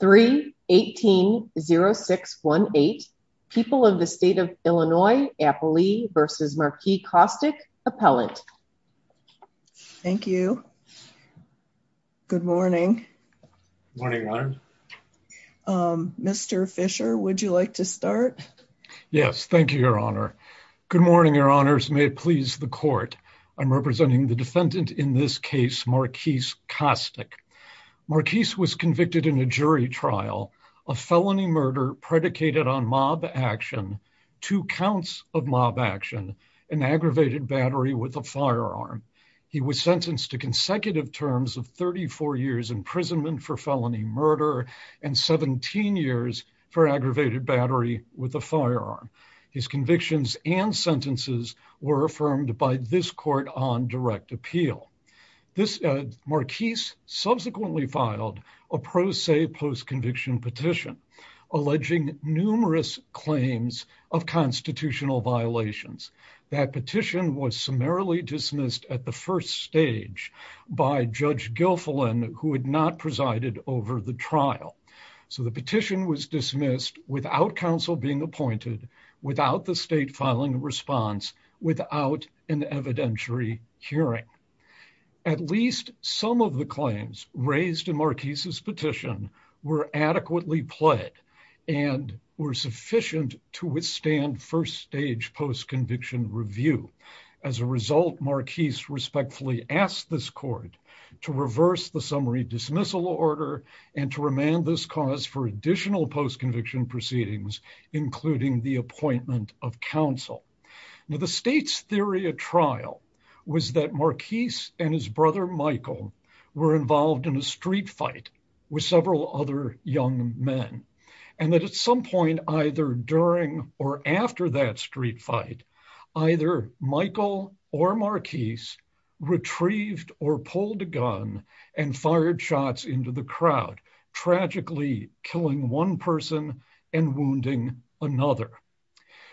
3 180618 people of the state of illinois appley versus marquee caustic appellant thank you good morning morning um mr fisher would you like to start yes thank you your honor good morning your honors may it please the court i'm representing the defendant in this case marquise caustic marquise was convicted in a jury trial a felony murder predicated on mob action two counts of mob action an aggravated battery with a firearm he was sentenced to consecutive terms of 34 years imprisonment for felony murder and 17 years for aggravated battery with a firearm his convictions and sentences were affirmed by this court on direct appeal this marquise subsequently filed a pro se post-conviction petition alleging numerous claims of constitutional violations that petition was summarily dismissed at the first stage by judge gilfolin who had not presided over the trial so the petition was dismissed without counsel being appointed without the state filing a response without an evidentiary hearing at least some of the claims raised in marquise's petition were adequately pled and were sufficient to withstand first stage post-conviction review as a result marquise respectfully asked this court to reverse the summary dismissal order and to remand this cause for additional post-conviction proceedings including the appointment of counsel now the state's theory of trial was that marquise and his brother michael were involved in a street fight with several other young men and that at some point either during or after that street fight either michael or marquise retrieved or and wounding another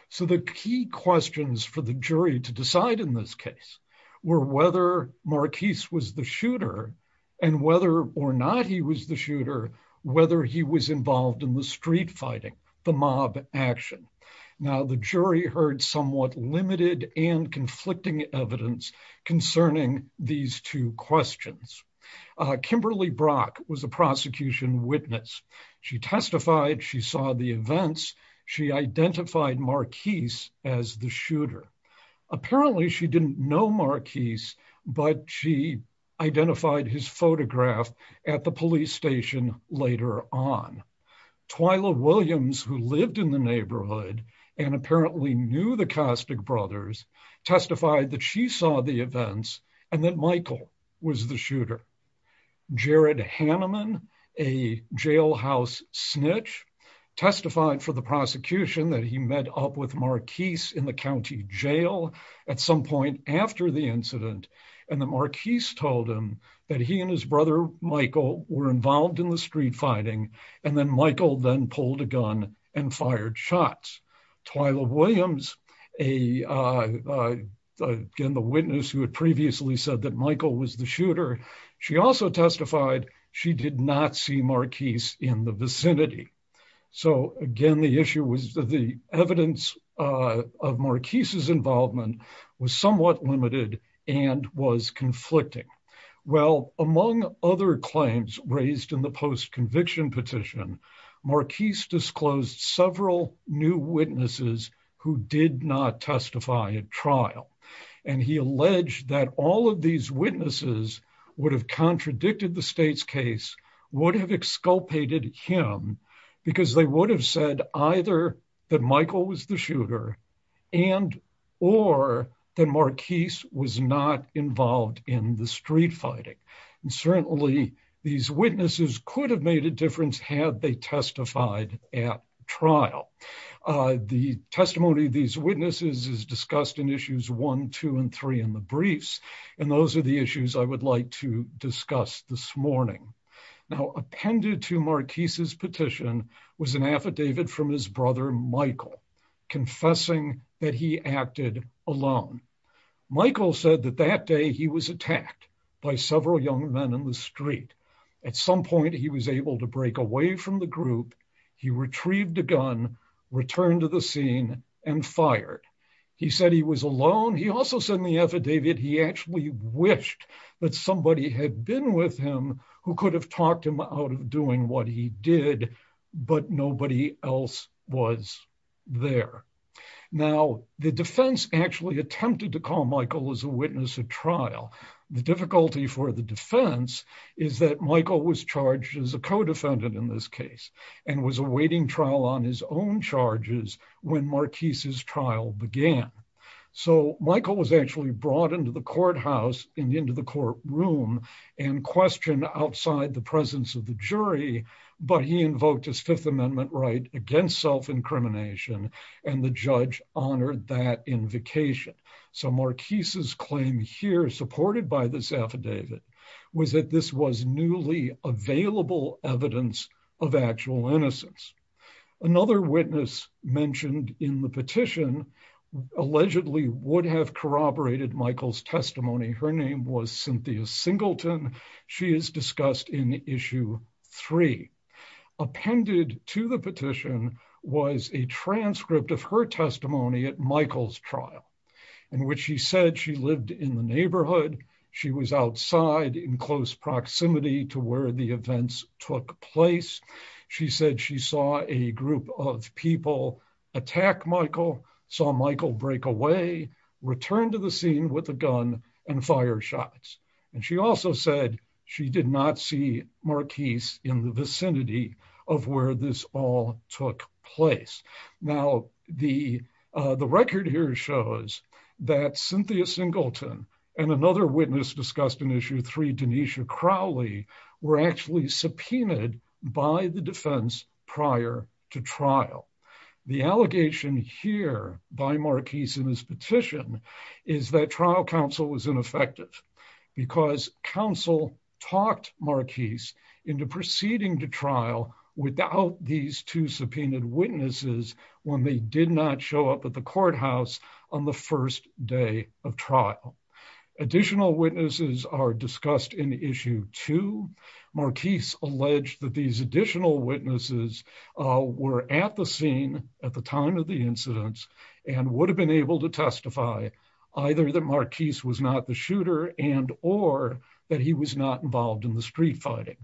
so the key questions for the jury to decide in this case were whether marquise was the shooter and whether or not he was the shooter whether he was involved in the street fighting the mob action now the jury heard somewhat limited and conflicting evidence concerning these two questions uh kimberly brock was a prosecution witness she testified she saw the events she identified marquise as the shooter apparently she didn't know marquise but she identified his photograph at the police station later on twyla williams who lived in the neighborhood and apparently knew the caustic brothers testified that she saw the events and that michael was the shooter jared hanneman a jailhouse snitch testified for the prosecution that he met up with marquise in the county jail at some point after the incident and the marquise told him that he and his brother michael were involved in the street fighting and then michael then pulled a gun and fired shots twyla williams a uh again the witness who had previously said that michael was the shooter she also testified she did not see marquise in the vicinity so again the issue was the evidence uh of marquise's involvement was somewhat limited and was conflicting well among other claims raised in the post-conviction petition marquise disclosed several new witnesses who did not testify at trial and he alleged that all of these witnesses would have contradicted the state's case would have exculpated him because they would have said either that michael was the these witnesses could have made a difference had they testified at trial uh the testimony these witnesses is discussed in issues one two and three in the briefs and those are the issues i would like to discuss this morning now appended to marquise's petition was an affidavit from his brother michael confessing that he acted alone michael said that that day he was attacked by several young men in the street at some point he was able to break away from the group he retrieved a gun returned to the scene and fired he said he was alone he also said in the affidavit he actually wished that somebody had been with him who could have talked him out of doing what he did but nobody else was there now the defense actually attempted to call michael as a witness at trial the difficulty for the defense is that michael was charged as a co-defendant in this case and was awaiting trial on his own charges when marquise's trial began so michael was actually brought into the courthouse in the end of the courtroom and questioned outside the presence of the jury but he invoked his fifth amendment right against self-incrimination and the judge honored that invocation so marquise's claim here supported by this affidavit was that this was newly available evidence of actual innocence another witness mentioned in the petition allegedly would have corroborated michael's testimony her name was cynthia singleton she is discussed in issue three appended to the petition was a transcript of her testimony at michael's trial in which she said she lived in the neighborhood she was outside in close proximity to where the events took place she said she saw a group of people attack michael saw michael break away return to the scene with a gun and fire shots and she also said she did not see marquise in the vicinity of where this all took place now the uh the record here shows that cynthia singleton and another witness discussed in issue three denisha crowley were actually subpoenaed by the petition is that trial counsel was ineffective because counsel talked marquise into proceeding to trial without these two subpoenaed witnesses when they did not show up at the courthouse on the first day of trial additional witnesses are discussed in issue two marquise alleged that these additional witnesses uh were at the scene at the time of the incidents and would have been able to testify either that marquise was not the shooter and or that he was not involved in the street fighting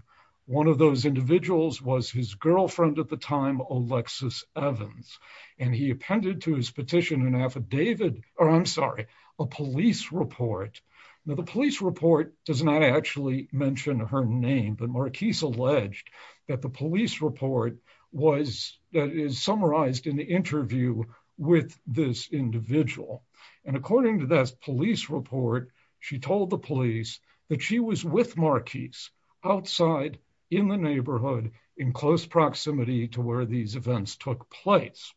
one of those individuals was his girlfriend at the time alexis evans and he appended to his petition an affidavit or i'm sorry a police report now the police report does not actually mention her name but marquise alleged that the police report was that is summarized in the and according to this police report she told the police that she was with marquise outside in the neighborhood in close proximity to where these events took place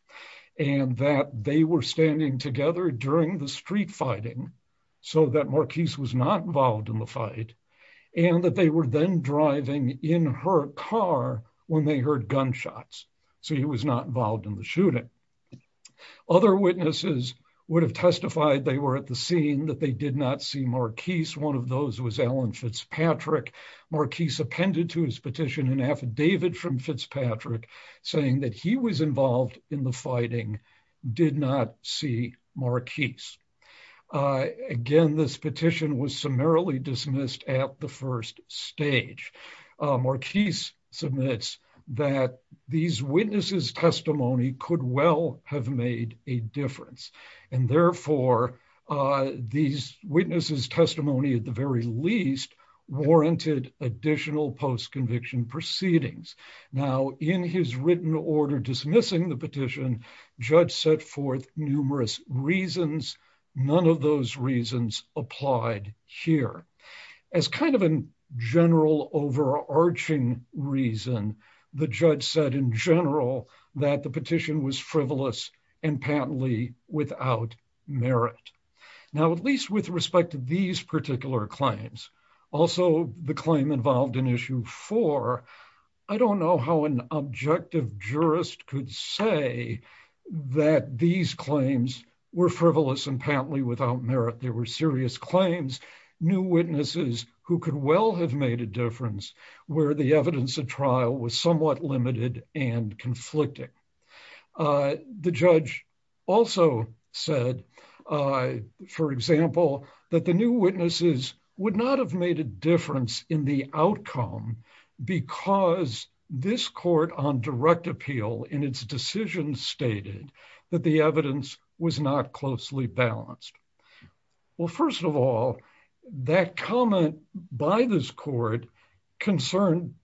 and that they were standing together during the street fighting so that marquise was not involved in the fight and that they were then driving in her car when they heard gunshots so he was not involved in the shooting other witnesses would have testified they were at the scene that they did not see marquise one of those was alan fitzpatrick marquise appended to his petition an affidavit from fitzpatrick saying that he was involved in the fighting did not see marquise again this petition was summarily dismissed at the first stage marquise submits that these witnesses testimony could well have made a difference and therefore uh these witnesses testimony at the very least warranted additional post-conviction proceedings now in his written order dismissing the petition judge set forth numerous reasons none of those reasons applied here as kind of a general overarching reason the judge said in general that the petition was frivolous and patently without merit now at least with respect to these particular claims also the claim involved in issue four i don't know how an objective jurist could say that these claims were frivolous and patently without merit there were serious claims new witnesses who could well have made a difference where the evidence of trial was somewhat limited and conflicting uh the judge also said uh for example that the new witnesses would not have made a difference in the outcome because this court on well first of all that comment by this court concerned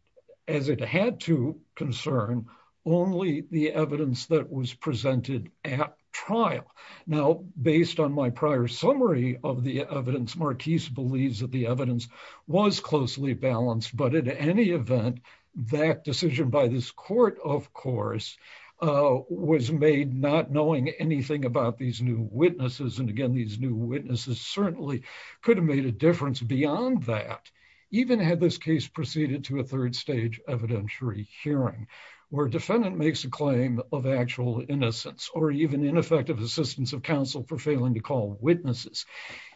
as it had to concern only the evidence that was presented at trial now based on my prior summary of the evidence marquise believes that the evidence was closely balanced but at any event that decision by this court of course uh was made not knowing anything about these new witnesses and again these new witnesses certainly could have made a difference beyond that even had this case proceeded to a third stage evidentiary hearing where defendant makes a claim of actual innocence or even ineffective assistance of counsel for failing to call witnesses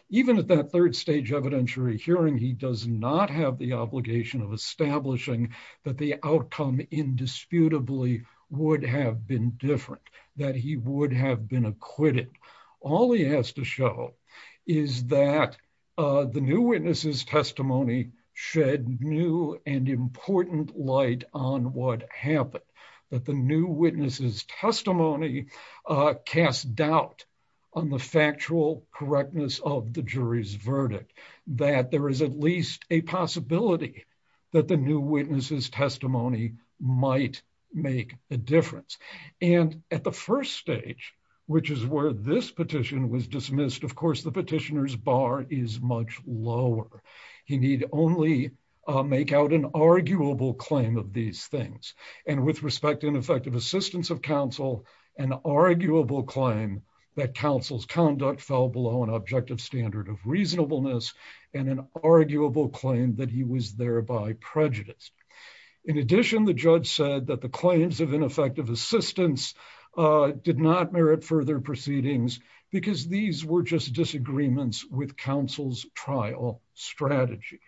even at that third stage evidentiary hearing he does not have the he would have been acquitted all he has to show is that uh the new witnesses testimony shed new and important light on what happened that the new witnesses testimony uh cast doubt on the factual correctness of the jury's verdict that there is at least a possibility that the new which is where this petition was dismissed of course the petitioner's bar is much lower he need only make out an arguable claim of these things and with respect to ineffective assistance of counsel an arguable claim that counsel's conduct fell below an objective standard of reasonableness and an arguable claim that he was thereby prejudiced in addition the judge said that the not merit further proceedings because these were just disagreements with counsel's trial strategy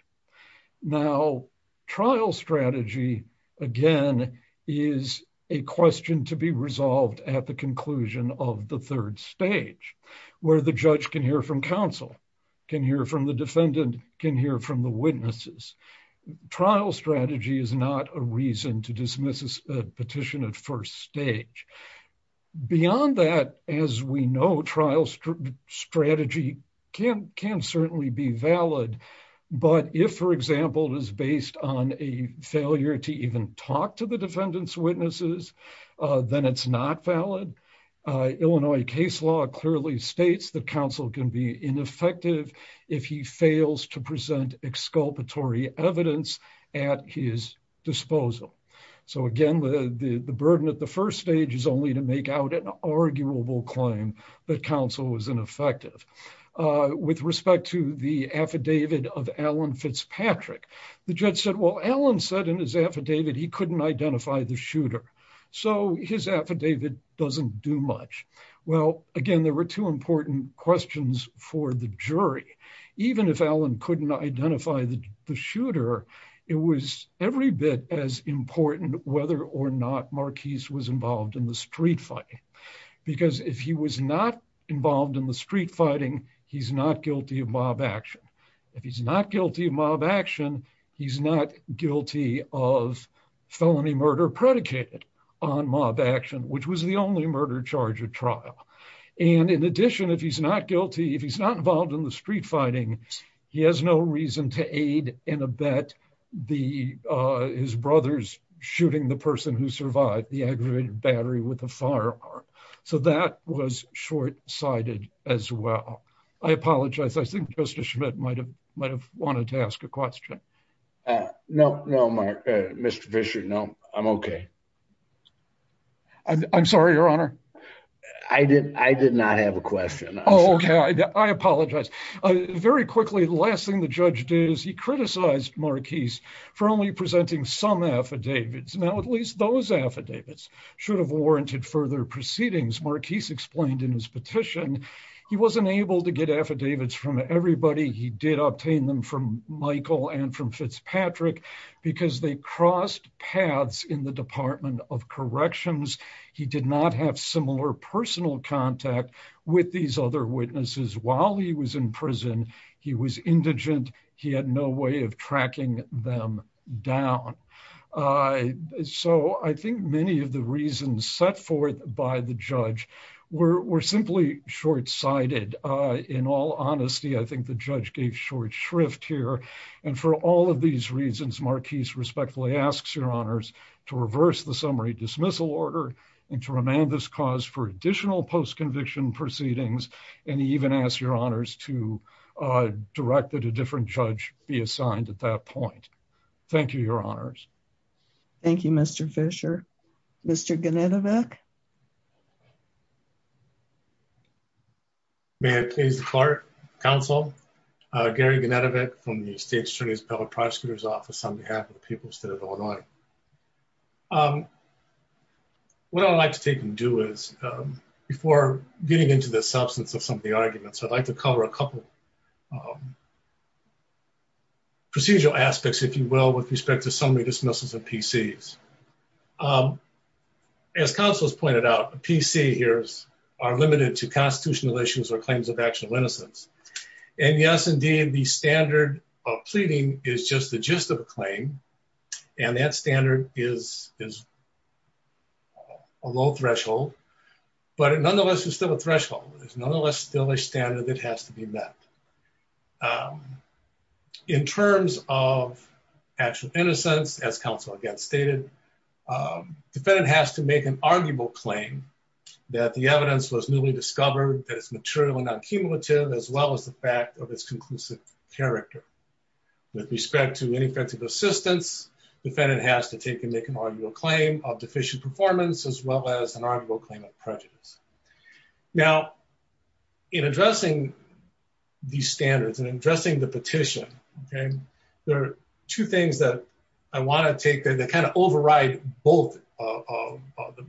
now trial strategy again is a question to be resolved at the conclusion of the third stage where the judge can hear from counsel can hear from the defendant can hear from the witnesses trial strategy is not a reason to dismiss a petition at first stage beyond that as we know trial strategy can can certainly be valid but if for example is based on a failure to even talk to the defendant's witnesses uh then it's not valid uh illinois case law clearly states that counsel can be ineffective if he fails to present exculpatory evidence at his disposal so again the the burden at the first stage is only to make out an arguable claim that counsel was ineffective uh with respect to the affidavit of alan fitzpatrick the judge said well alan said in his affidavit he couldn't identify the shooter so his affidavit doesn't do much well again there were two important questions for the jury even if alan couldn't identify the shooter it was every bit as important whether or not marquise was involved in the street fighting because if he was not involved in the street fighting he's not guilty of mob action if he's not guilty of mob action he's not guilty of felony murder predicated on mob action which was the only murder charge at and in addition if he's not guilty if he's not involved in the street fighting he has no reason to aid in a bet the uh his brothers shooting the person who survived the aggravated battery with the firearm so that was short-sighted as well i apologize i think justice schmidt might have might have wanted to ask a question uh no no mr fisher no i'm okay i'm sorry your honor i did i did not have a question okay i apologize uh very quickly the last thing the judge did is he criticized marquise for only presenting some affidavits now at least those affidavits should have warranted further proceedings marquise explained in his petition he wasn't able to get affidavits from everybody he did obtain them from michael and from fitzpatrick because they personal contact with these other witnesses while he was in prison he was indigent he had no way of tracking them down uh so i think many of the reasons set forth by the judge were were simply short-sighted uh in all honesty i think the judge gave short shrift here and for all of these reasons marquise respectfully asks your honors to reverse the summary dismissal order and to cause for additional post-conviction proceedings and even ask your honors to direct that a different judge be assigned at that point thank you your honors thank you mr fisher mr ganetovic may it please the court counsel uh gary ganetovic from the state attorney's public prosecutor's office on behalf of the people of state of illinois um what i'd like to take and do is um before getting into the substance of some of the arguments i'd like to cover a couple um procedural aspects if you will with respect to summary dismissals of pcs um as counsels pointed out pc here's are limited to constitutional issues or claims of actual innocence and yes indeed the standard of pleading is just the gist of a claim and that standard is is a low threshold but it nonetheless is still a threshold it's nonetheless still a standard that has to be met in terms of actual innocence as counsel again stated defendant has to make an arguable claim that the evidence was newly discovered that it's material and non-cumulative as well as the fact of its conclusive character with respect to any effective assistance defendant has to take and make an arguable claim of deficient performance as well as an arguable claim of prejudice now in addressing these standards and addressing the petition okay there are two things that i want to take that kind of override both of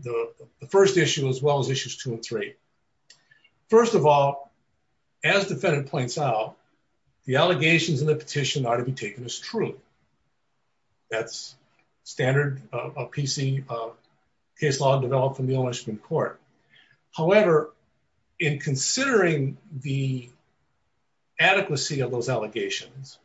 the the first issue as well as issues two and three first of all as defendant points out the allegations in the petition are to be taken as true that's standard of pc case law developed from the ownership in court however in considering the adequacy of those allegations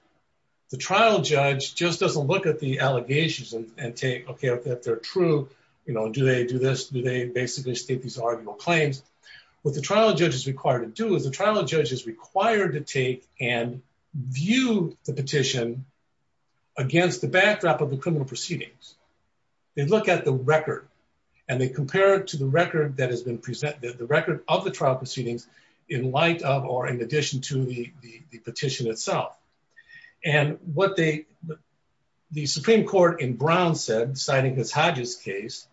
the trial judge just doesn't look at the allegations and take okay if they're true you know do they do this do they basically state these arguable claims what the trial judge is required to do is the trial judge is required to take and view the petition against the backdrop of the criminal proceedings they look at the record and they compare it to the record that has been presented the record of the trial proceedings in light of or in addition to the the petition itself and what they the supreme court in brown said citing miss hodges case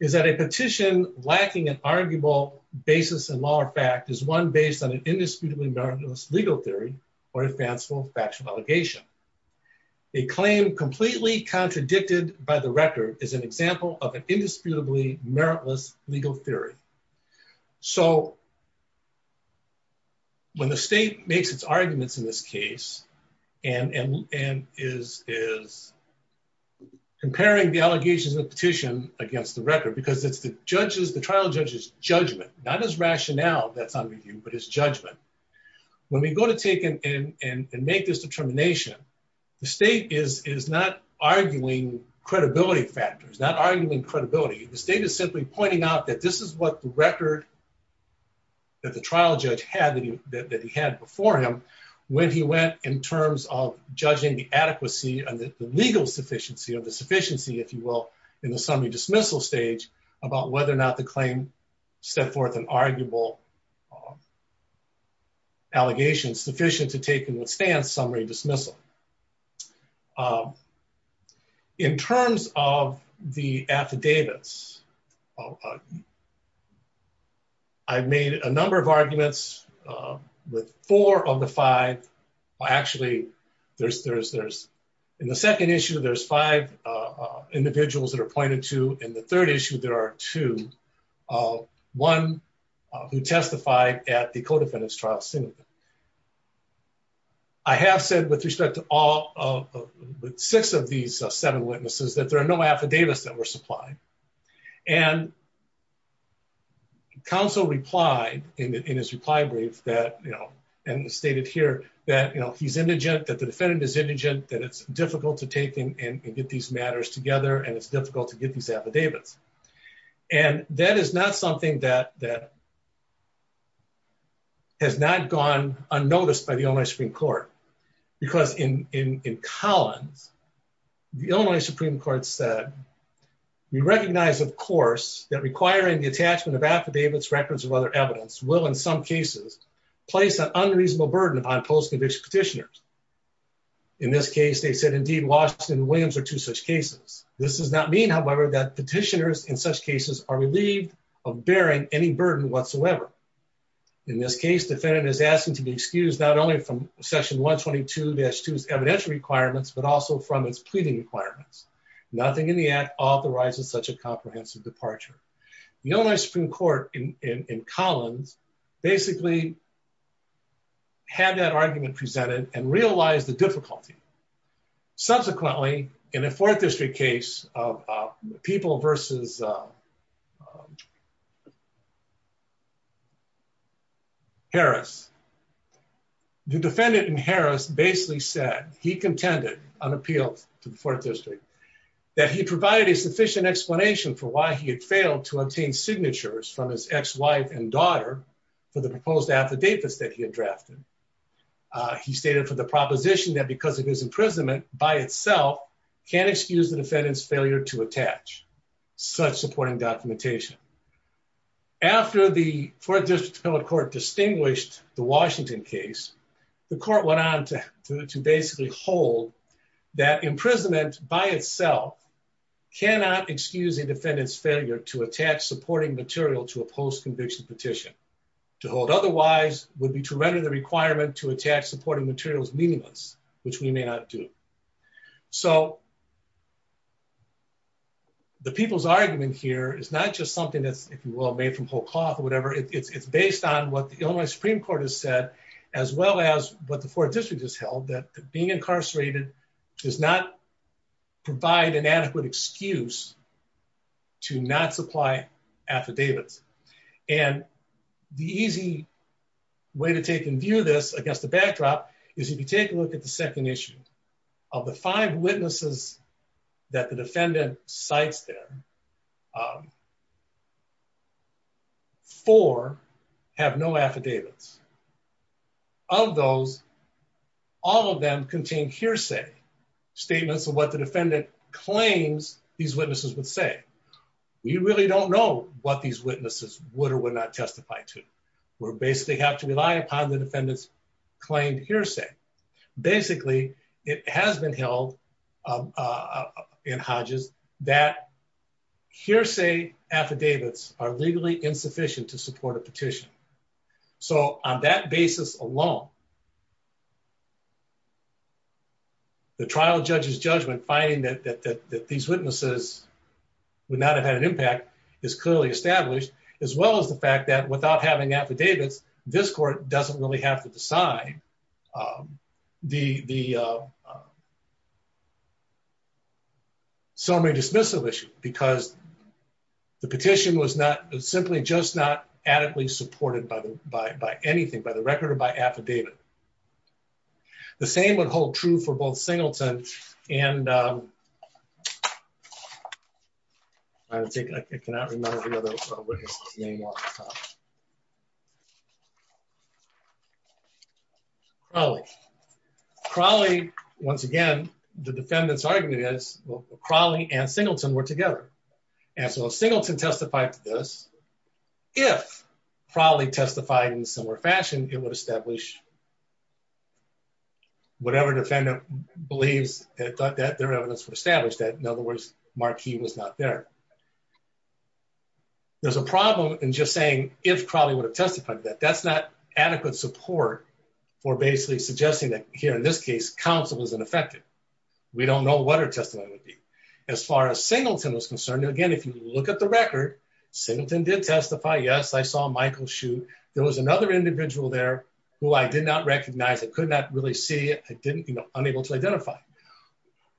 is that a petition lacking an arguable basis and law or fact is one based on an indisputably meritless legal theory or a fanciful factual allegation a claim completely contradicted by the record is an example of an indisputably meritless legal theory so when the state makes its arguments in this case and and and is is comparing the allegations of petition against the record because it's the judge's the trial judge's judgment not his rationale that's on review but his judgment when we go to take and and and make this determination the state is is not arguing credibility factors not arguing credibility the state is simply pointing out that this is what the record that the trial judge had that he had before him when he went in terms of judging the adequacy and the legal sufficiency of the sufficiency if you will in the summary dismissal stage about whether or not the claim set forth an arguable allegation sufficient to take and withstand summary dismissal um in terms of the affidavits i've made a number of arguments with four of the five actually there's there's there's in the second issue there's five uh individuals that are pointed to in the third issue there are two one who testified at the co-defendants trial scene i have said with respect to all of the six of these seven witnesses that there are no affidavits that were supplied and counsel replied in his reply brief that you know and stated here that you know he's indigent that the defendant is indigent that it's difficult to take him and get these matters together and it's difficult to get these affidavits and that is not something that that has not gone unnoticed by the only supreme court because in in in collins the only supreme court said we recognize of course that requiring the attachment of affidavits records of other evidence will in some cases place an unreasonable burden upon post-conviction petitioners in this case they said indeed washington williams are two such cases this does not mean however that petitioners in such cases are relieved of bearing any burden whatsoever in this case defendant is asking to be excused not only from section 122-2's evidential requirements but also from its pleading requirements nothing in the act authorizes such a comprehensive departure the only supreme court in in collins basically had that argument presented and realized the difficulty subsequently in a fourth district case of people versus uh harris the defendant in harris basically said he contended unappealed to the fourth district that he provided a sufficient explanation for why he had failed to obtain signatures from his ex-wife and daughter for the proposed affidavits that he had drafted he stated for the proposition that because of his imprisonment by itself can't excuse the defendant's failure to attach such supporting documentation after the fourth district public court distinguished the washington case the court went on to basically hold that imprisonment by itself cannot excuse a defendant's failure to attach supporting material to a post-conviction petition to hold otherwise would be to render the requirement to attach supporting materials meaningless which we may not do so the people's argument here is not just something that's if you will made from whole or whatever it's it's based on what the illinois supreme court has said as well as what the fourth district has held that being incarcerated does not provide an adequate excuse to not supply affidavits and the easy way to take and view this against the backdrop is if you take a look at the four have no affidavits of those all of them contain hearsay statements of what the defendant claims these witnesses would say we really don't know what these witnesses would or would not testify to we're basically have to rely upon the defendant's claimed hearsay basically it has been held uh in hodges that hearsay affidavits are legally insufficient to support a petition so on that basis alone the trial judge's judgment finding that that that these witnesses would not have had an impact is clearly established as well as the fact that without having affidavits this court doesn't really have to decide um the the uh summary dismissal issue because the petition was not simply just not adequately supported by the by by anything by the record or by affidavit the same would hold true for both singleton and um i don't think i cannot remember the other name off the top probably probably once again the defendant's argument is well crawley and singleton were together and so singleton testified to this if probably testified in a similar fashion it would establish whatever defendant believes that that their evidence would establish that in other words marquee was not there there's a problem in just saying if crawley would have testified that that's not adequate support for basically suggesting that here in this case counsel was ineffective we don't know what her testimony would be as far as singleton was concerned again if you look at the record singleton did testify yes i saw michael shoot there was another individual there who i did not recognize i could not really see it i didn't you know unable to identify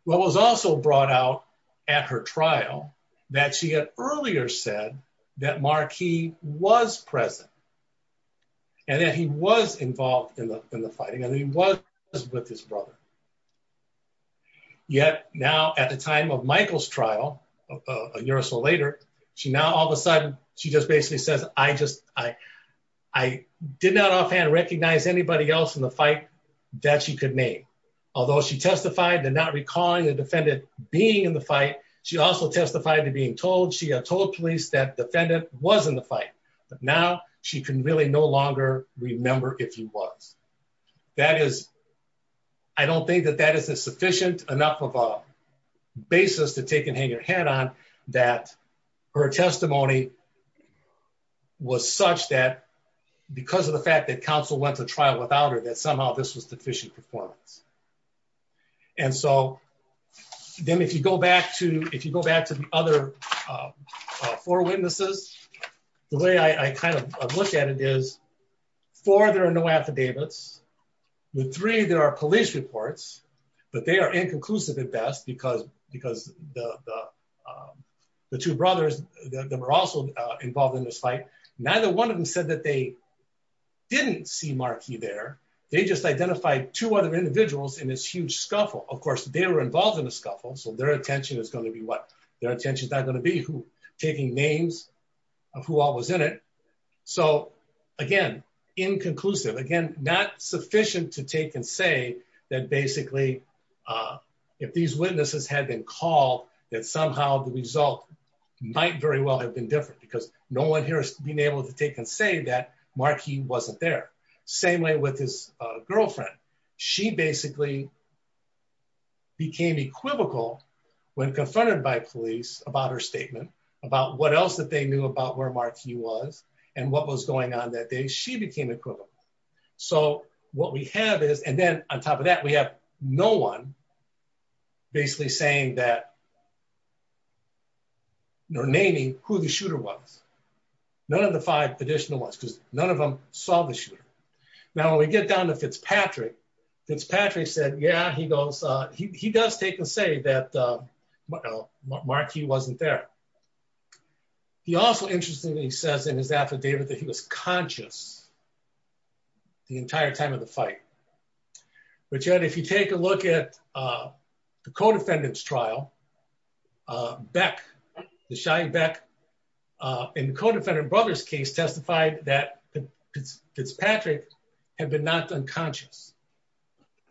what was also brought out at her trial that she had earlier said that marquee was present and that he was involved in the in the fighting and he was with his brother yet now at the time of michael's trial a year or so later she now all of a sudden she just basically says i just i i did not offhand recognize anybody else in the fight that she could name although she testified to not recalling the defendant being in the fight she also testified to being told she had told police that defendant was in the fight but now she can really no longer remember if he was that is i don't think that that is a sufficient enough of a basis to take and hang your head on that her testimony was such that because of the fact that counsel went to trial without her that somehow this was deficient performance and so then if you go back to if you go back to the other four witnesses the way i i kind of look at it is four there are no affidavits with three there are police reports but they are inconclusive at best because because the the two brothers that were also involved in this fight neither one of them said that they didn't see marquee there they just identified two other individuals in this huge scuffle of course they were involved in the scuffle so their attention is going to be what their attention is not going to be who taking names of who all was in it so again inconclusive again not sufficient to take and say that basically uh if these witnesses had been called that somehow the result might very well have been different because no one here has been able to take and say that marquee wasn't there same way with his girlfriend she basically became equivocal when confronted by police about her statement about what else that they knew about where marquee was and what was going on that day she became equivocal so what we have is and then on top of that we have no one basically saying that no naming who the shooter was none of the five additional ones because none of them saw the shooter now when we get down to Fitzpatrick Fitzpatrick said yeah he goes uh he does take and say that uh well marquee wasn't there he also interestingly says in his affidavit that he was conscious the entire time of the fight but yet if you take a look at uh the co-defendant's trial uh beck the shy beck uh in the co-defendant brother's case testified that Fitzpatrick had been knocked unconscious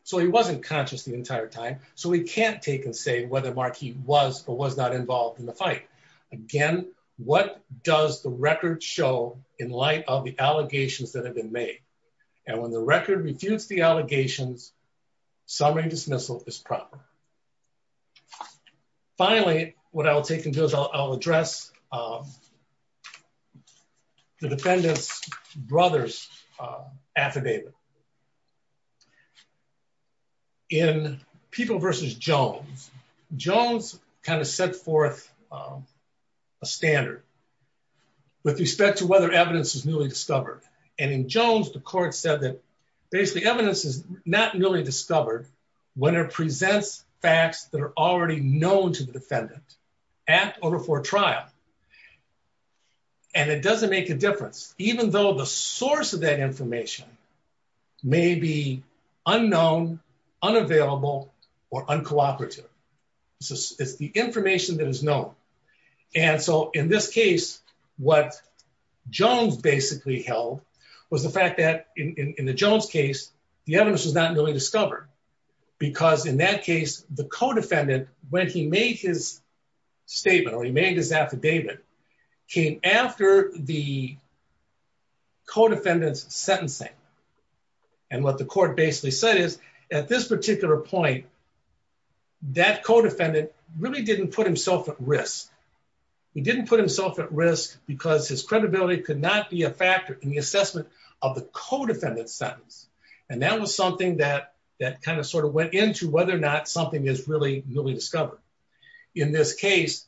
so he wasn't conscious the entire time so he can't take and say whether marquee was or was not involved in the fight again what does the record show in light of the allegations that have been made and when the record refutes the allegations summary dismissal is proper finally what i'll take into is i'll address the defendant's brother's affidavit in people versus jones jones kind of set forth a standard with respect to whether evidence is newly discovered and in jones the court said that basically evidence is not newly discovered when it presents facts that are already known to the defendant at or before trial and it doesn't make a difference even though the source of that information may be unknown unavailable or uncooperative so it's the information that is known and so in this case what jones basically held was the fact that in in the jones case the evidence was not really discovered because in that case the co-defendant when he made his statement or he made his affidavit came after the co-defendant's sentencing and what the court basically said is at this particular point that co-defendant really didn't put himself at risk he didn't put himself at risk because his credibility could not be a factor in the assessment of the co-defendant's sentence and that was something that that kind of sort of went into whether or not something is really discovered in this case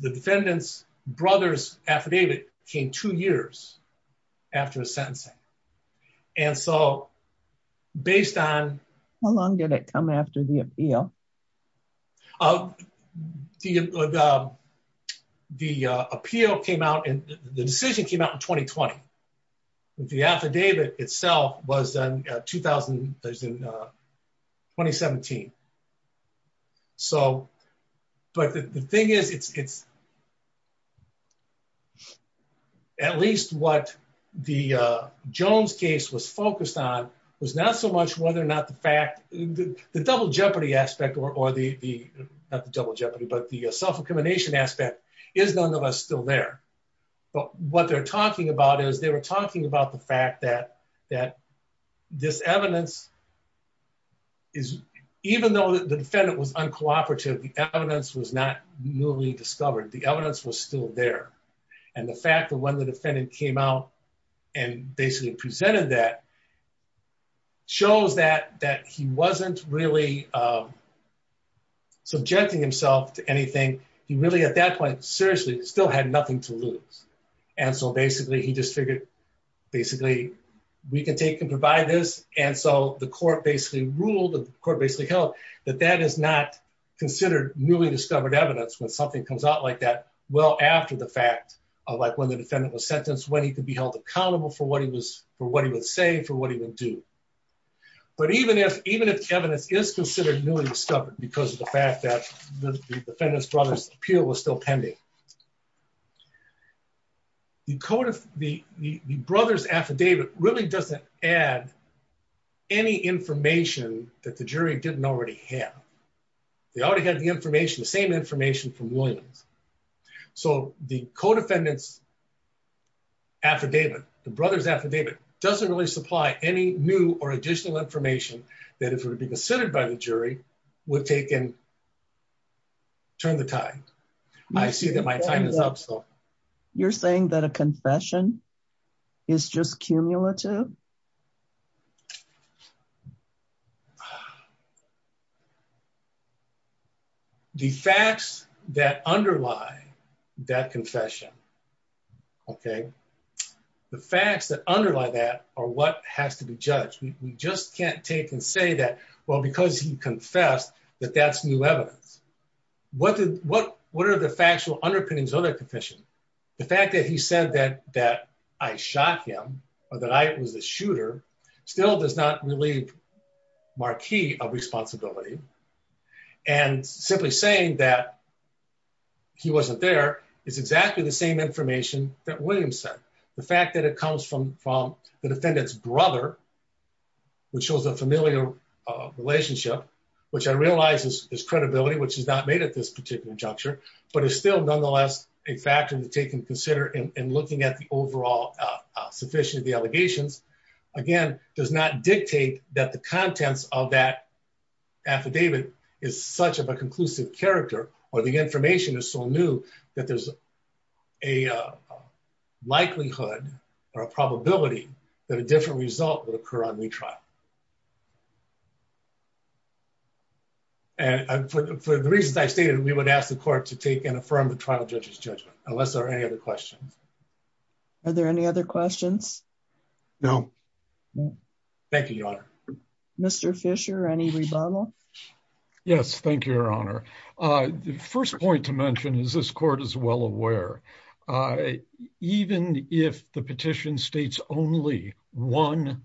the defendant's brother's affidavit came two years after his sentencing and so based on how long did it come after the appeal uh the uh the appeal came out and the decision came out in 2020 the affidavit itself was done 2000 2017 so but the thing is it's it's at least what the uh jones case was focused on was not so much whether or not the fact the double jeopardy aspect or or the the not the double jeopardy but the self-accrimination aspect is none of us still there but what they're talking about is they were talking about the fact that that this evidence is even though the defendant was uncooperative the evidence was not newly discovered the evidence was still there and the fact that when the defendant came out and basically presented that shows that that he wasn't really um subjecting himself to anything he really at that point seriously still had nothing to lose and so basically he just figured basically we can take and provide this and so the court basically ruled the court basically held that that is not considered newly discovered evidence when something comes out like that well after the fact of like when the defendant was sentenced when he could be held accountable for what he was for what he would say for what he would do but even if even if evidence is considered newly discovered because of the fact that the defendant's brother's appeal was still pending the code of the the brother's affidavit really doesn't add any information that the jury didn't already have they already had the information the same information from williams so the co-defendants affidavit the brother's affidavit doesn't really supply any new or additional information that if it would be considered by the jury would take and turn the time i see that my time is up so you're saying that a confession is just cumulative the facts that underlie that confession okay the facts that underlie that are what has to be judged we just can't take and say that well because he confessed that that's new evidence what did what what are the factual underpinnings of that confession the fact that he said that that i shot him or that i was a shooter still does not relieve marquee of responsibility and simply saying that he wasn't there is exactly the same information that williams said the fact that it comes from from the defendant's brother which shows a familiar relationship which i is credibility which is not made at this particular juncture but it's still nonetheless a factor to take and consider in looking at the overall uh sufficiently the allegations again does not dictate that the contents of that affidavit is such of a conclusive character or the information is so new that there's a likelihood or a probability that a different result would and for the reasons i stated we would ask the court to take and affirm the trial judge's judgment unless there are any other questions are there any other questions no thank you your honor mr fisher any rebuttal yes thank you your honor uh the first point to mention is this court is one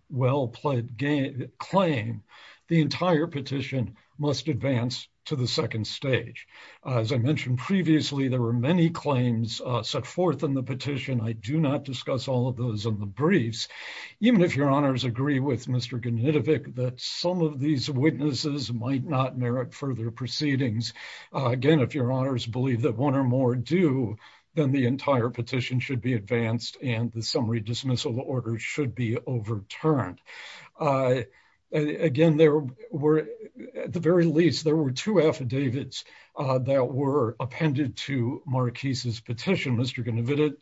well-pledged claim the entire petition must advance to the second stage as i mentioned previously there were many claims uh set forth in the petition i do not discuss all of those in the briefs even if your honors agree with mr ganitovic that some of these witnesses might not merit further proceedings again if your honors believe that one or more do then the entire petition should be advanced and the summary dismissal order should be overturned uh again there were at the very least there were two affidavits uh that were appended to marquise's petition mr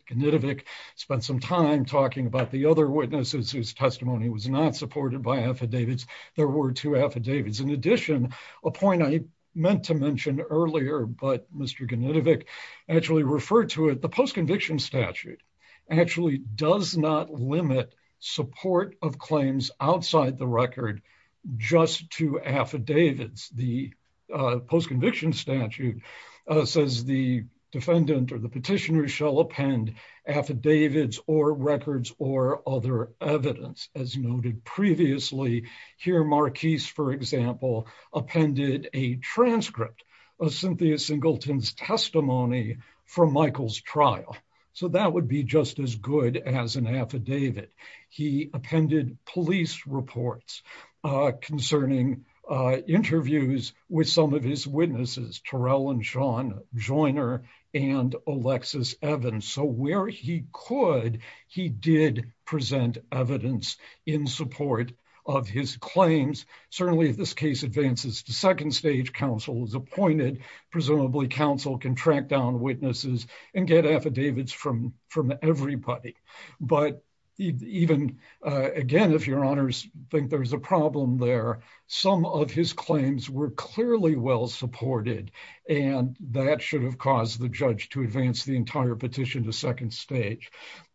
ganitovic spent some time talking about the other witnesses whose testimony was not supported by affidavits there were two affidavits in addition a point i meant to actually does not limit support of claims outside the record just to affidavits the post-conviction statute uh says the defendant or the petitioner shall append affidavits or records or other evidence as noted previously here marquise for example appended a transcript of cynthia singleton's testimony from michael's trial so that would be just as good as an affidavit he appended police reports uh concerning uh interviews with some of his witnesses torell and sean joiner and alexis evans so where he could he did present evidence in support of his claims certainly if this case advances to second stage council is appointed presumably council can track down witnesses and get affidavits from from everybody but even uh again if your honors think there's a problem there some of his claims were clearly well supported and that should have caused the judge to advance the entire petition to second stage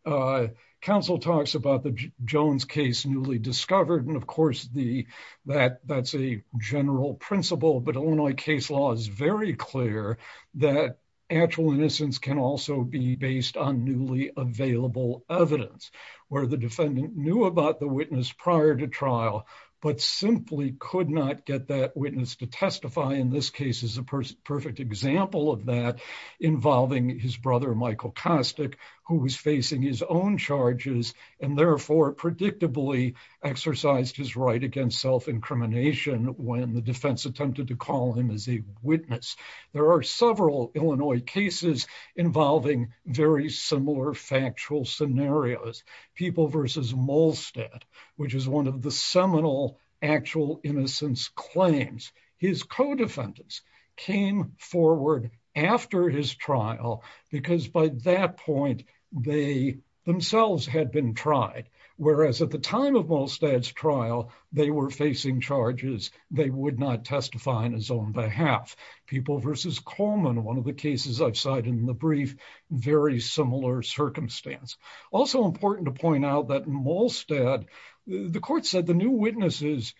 uh council talks about the jones case newly discovered and of course the that that's a general principle but illinois case law is very clear that actual innocence can also be based on newly available evidence where the defendant knew about the witness prior to trial but simply could not get that witness to testify in this case is a perfect example of that involving his brother michael costick who is facing his own charges and therefore predictably exercised his right against self-incrimination when the defense attempted to call him as a witness there are several illinois cases involving very similar factual scenarios people versus molested which is one of the seminal actual innocence claims his co-defendants came forward after his trial because by that point they themselves had been tried whereas at the time of most ads trial they were facing charges they would not testify on his own behalf people versus coleman one of the cases i've cited in the brief very similar circumstance also important to point out that molested the court said the witnesses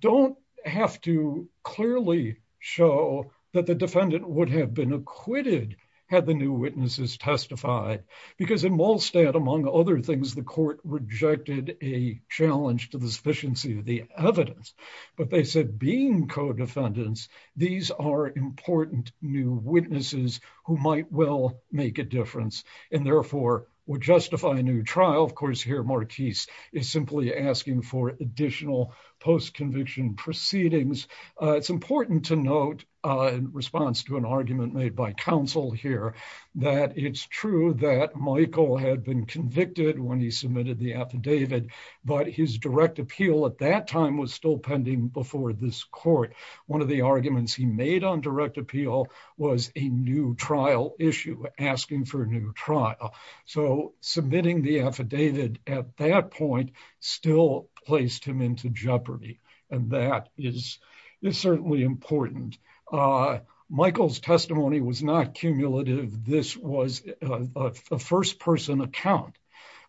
don't have to clearly show that the defendant would have been acquitted had the new witnesses testified because in molested among other things the court rejected a challenge to the sufficiency of the evidence but they said being co-defendants these are important new witnesses who might well make a difference and therefore would justify a new trial of course here marquise is simply asking for additional post-conviction proceedings uh it's important to note uh in response to an argument made by counsel here that it's true that michael had been convicted when he submitted the affidavit but his direct appeal at that time was still pending before this court one of the arguments he made on direct appeal was a new trial issue asking for a new trial so submitting the affidavit at that point still placed him into jeopardy and that is it's certainly important uh michael's testimony was not cumulative this was a first person account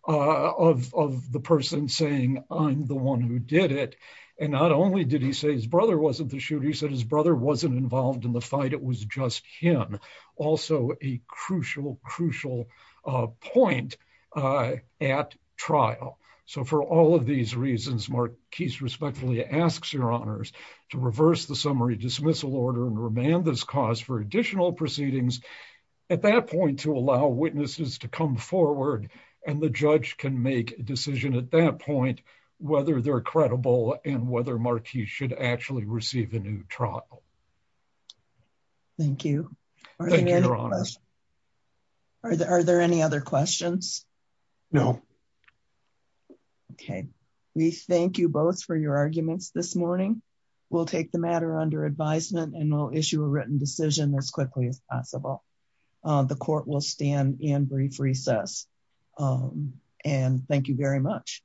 of of the person saying i'm the one who did it and not only did he say his brother wasn't the shooter he said his brother wasn't involved in the fight it was just him also a crucial crucial point uh at trial so for all of these reasons marquise respectfully asks your honors to reverse the summary dismissal order and remand this cause for additional proceedings at that point to allow witnesses to come forward and the judge can make a decision at that point whether they're credible and whether marquis should actually receive a new trial thank you thank you your questions no okay we thank you both for your arguments this morning we'll take the matter under advisement and we'll issue a written decision as quickly as possible the court will stand in brief recess and thank you very much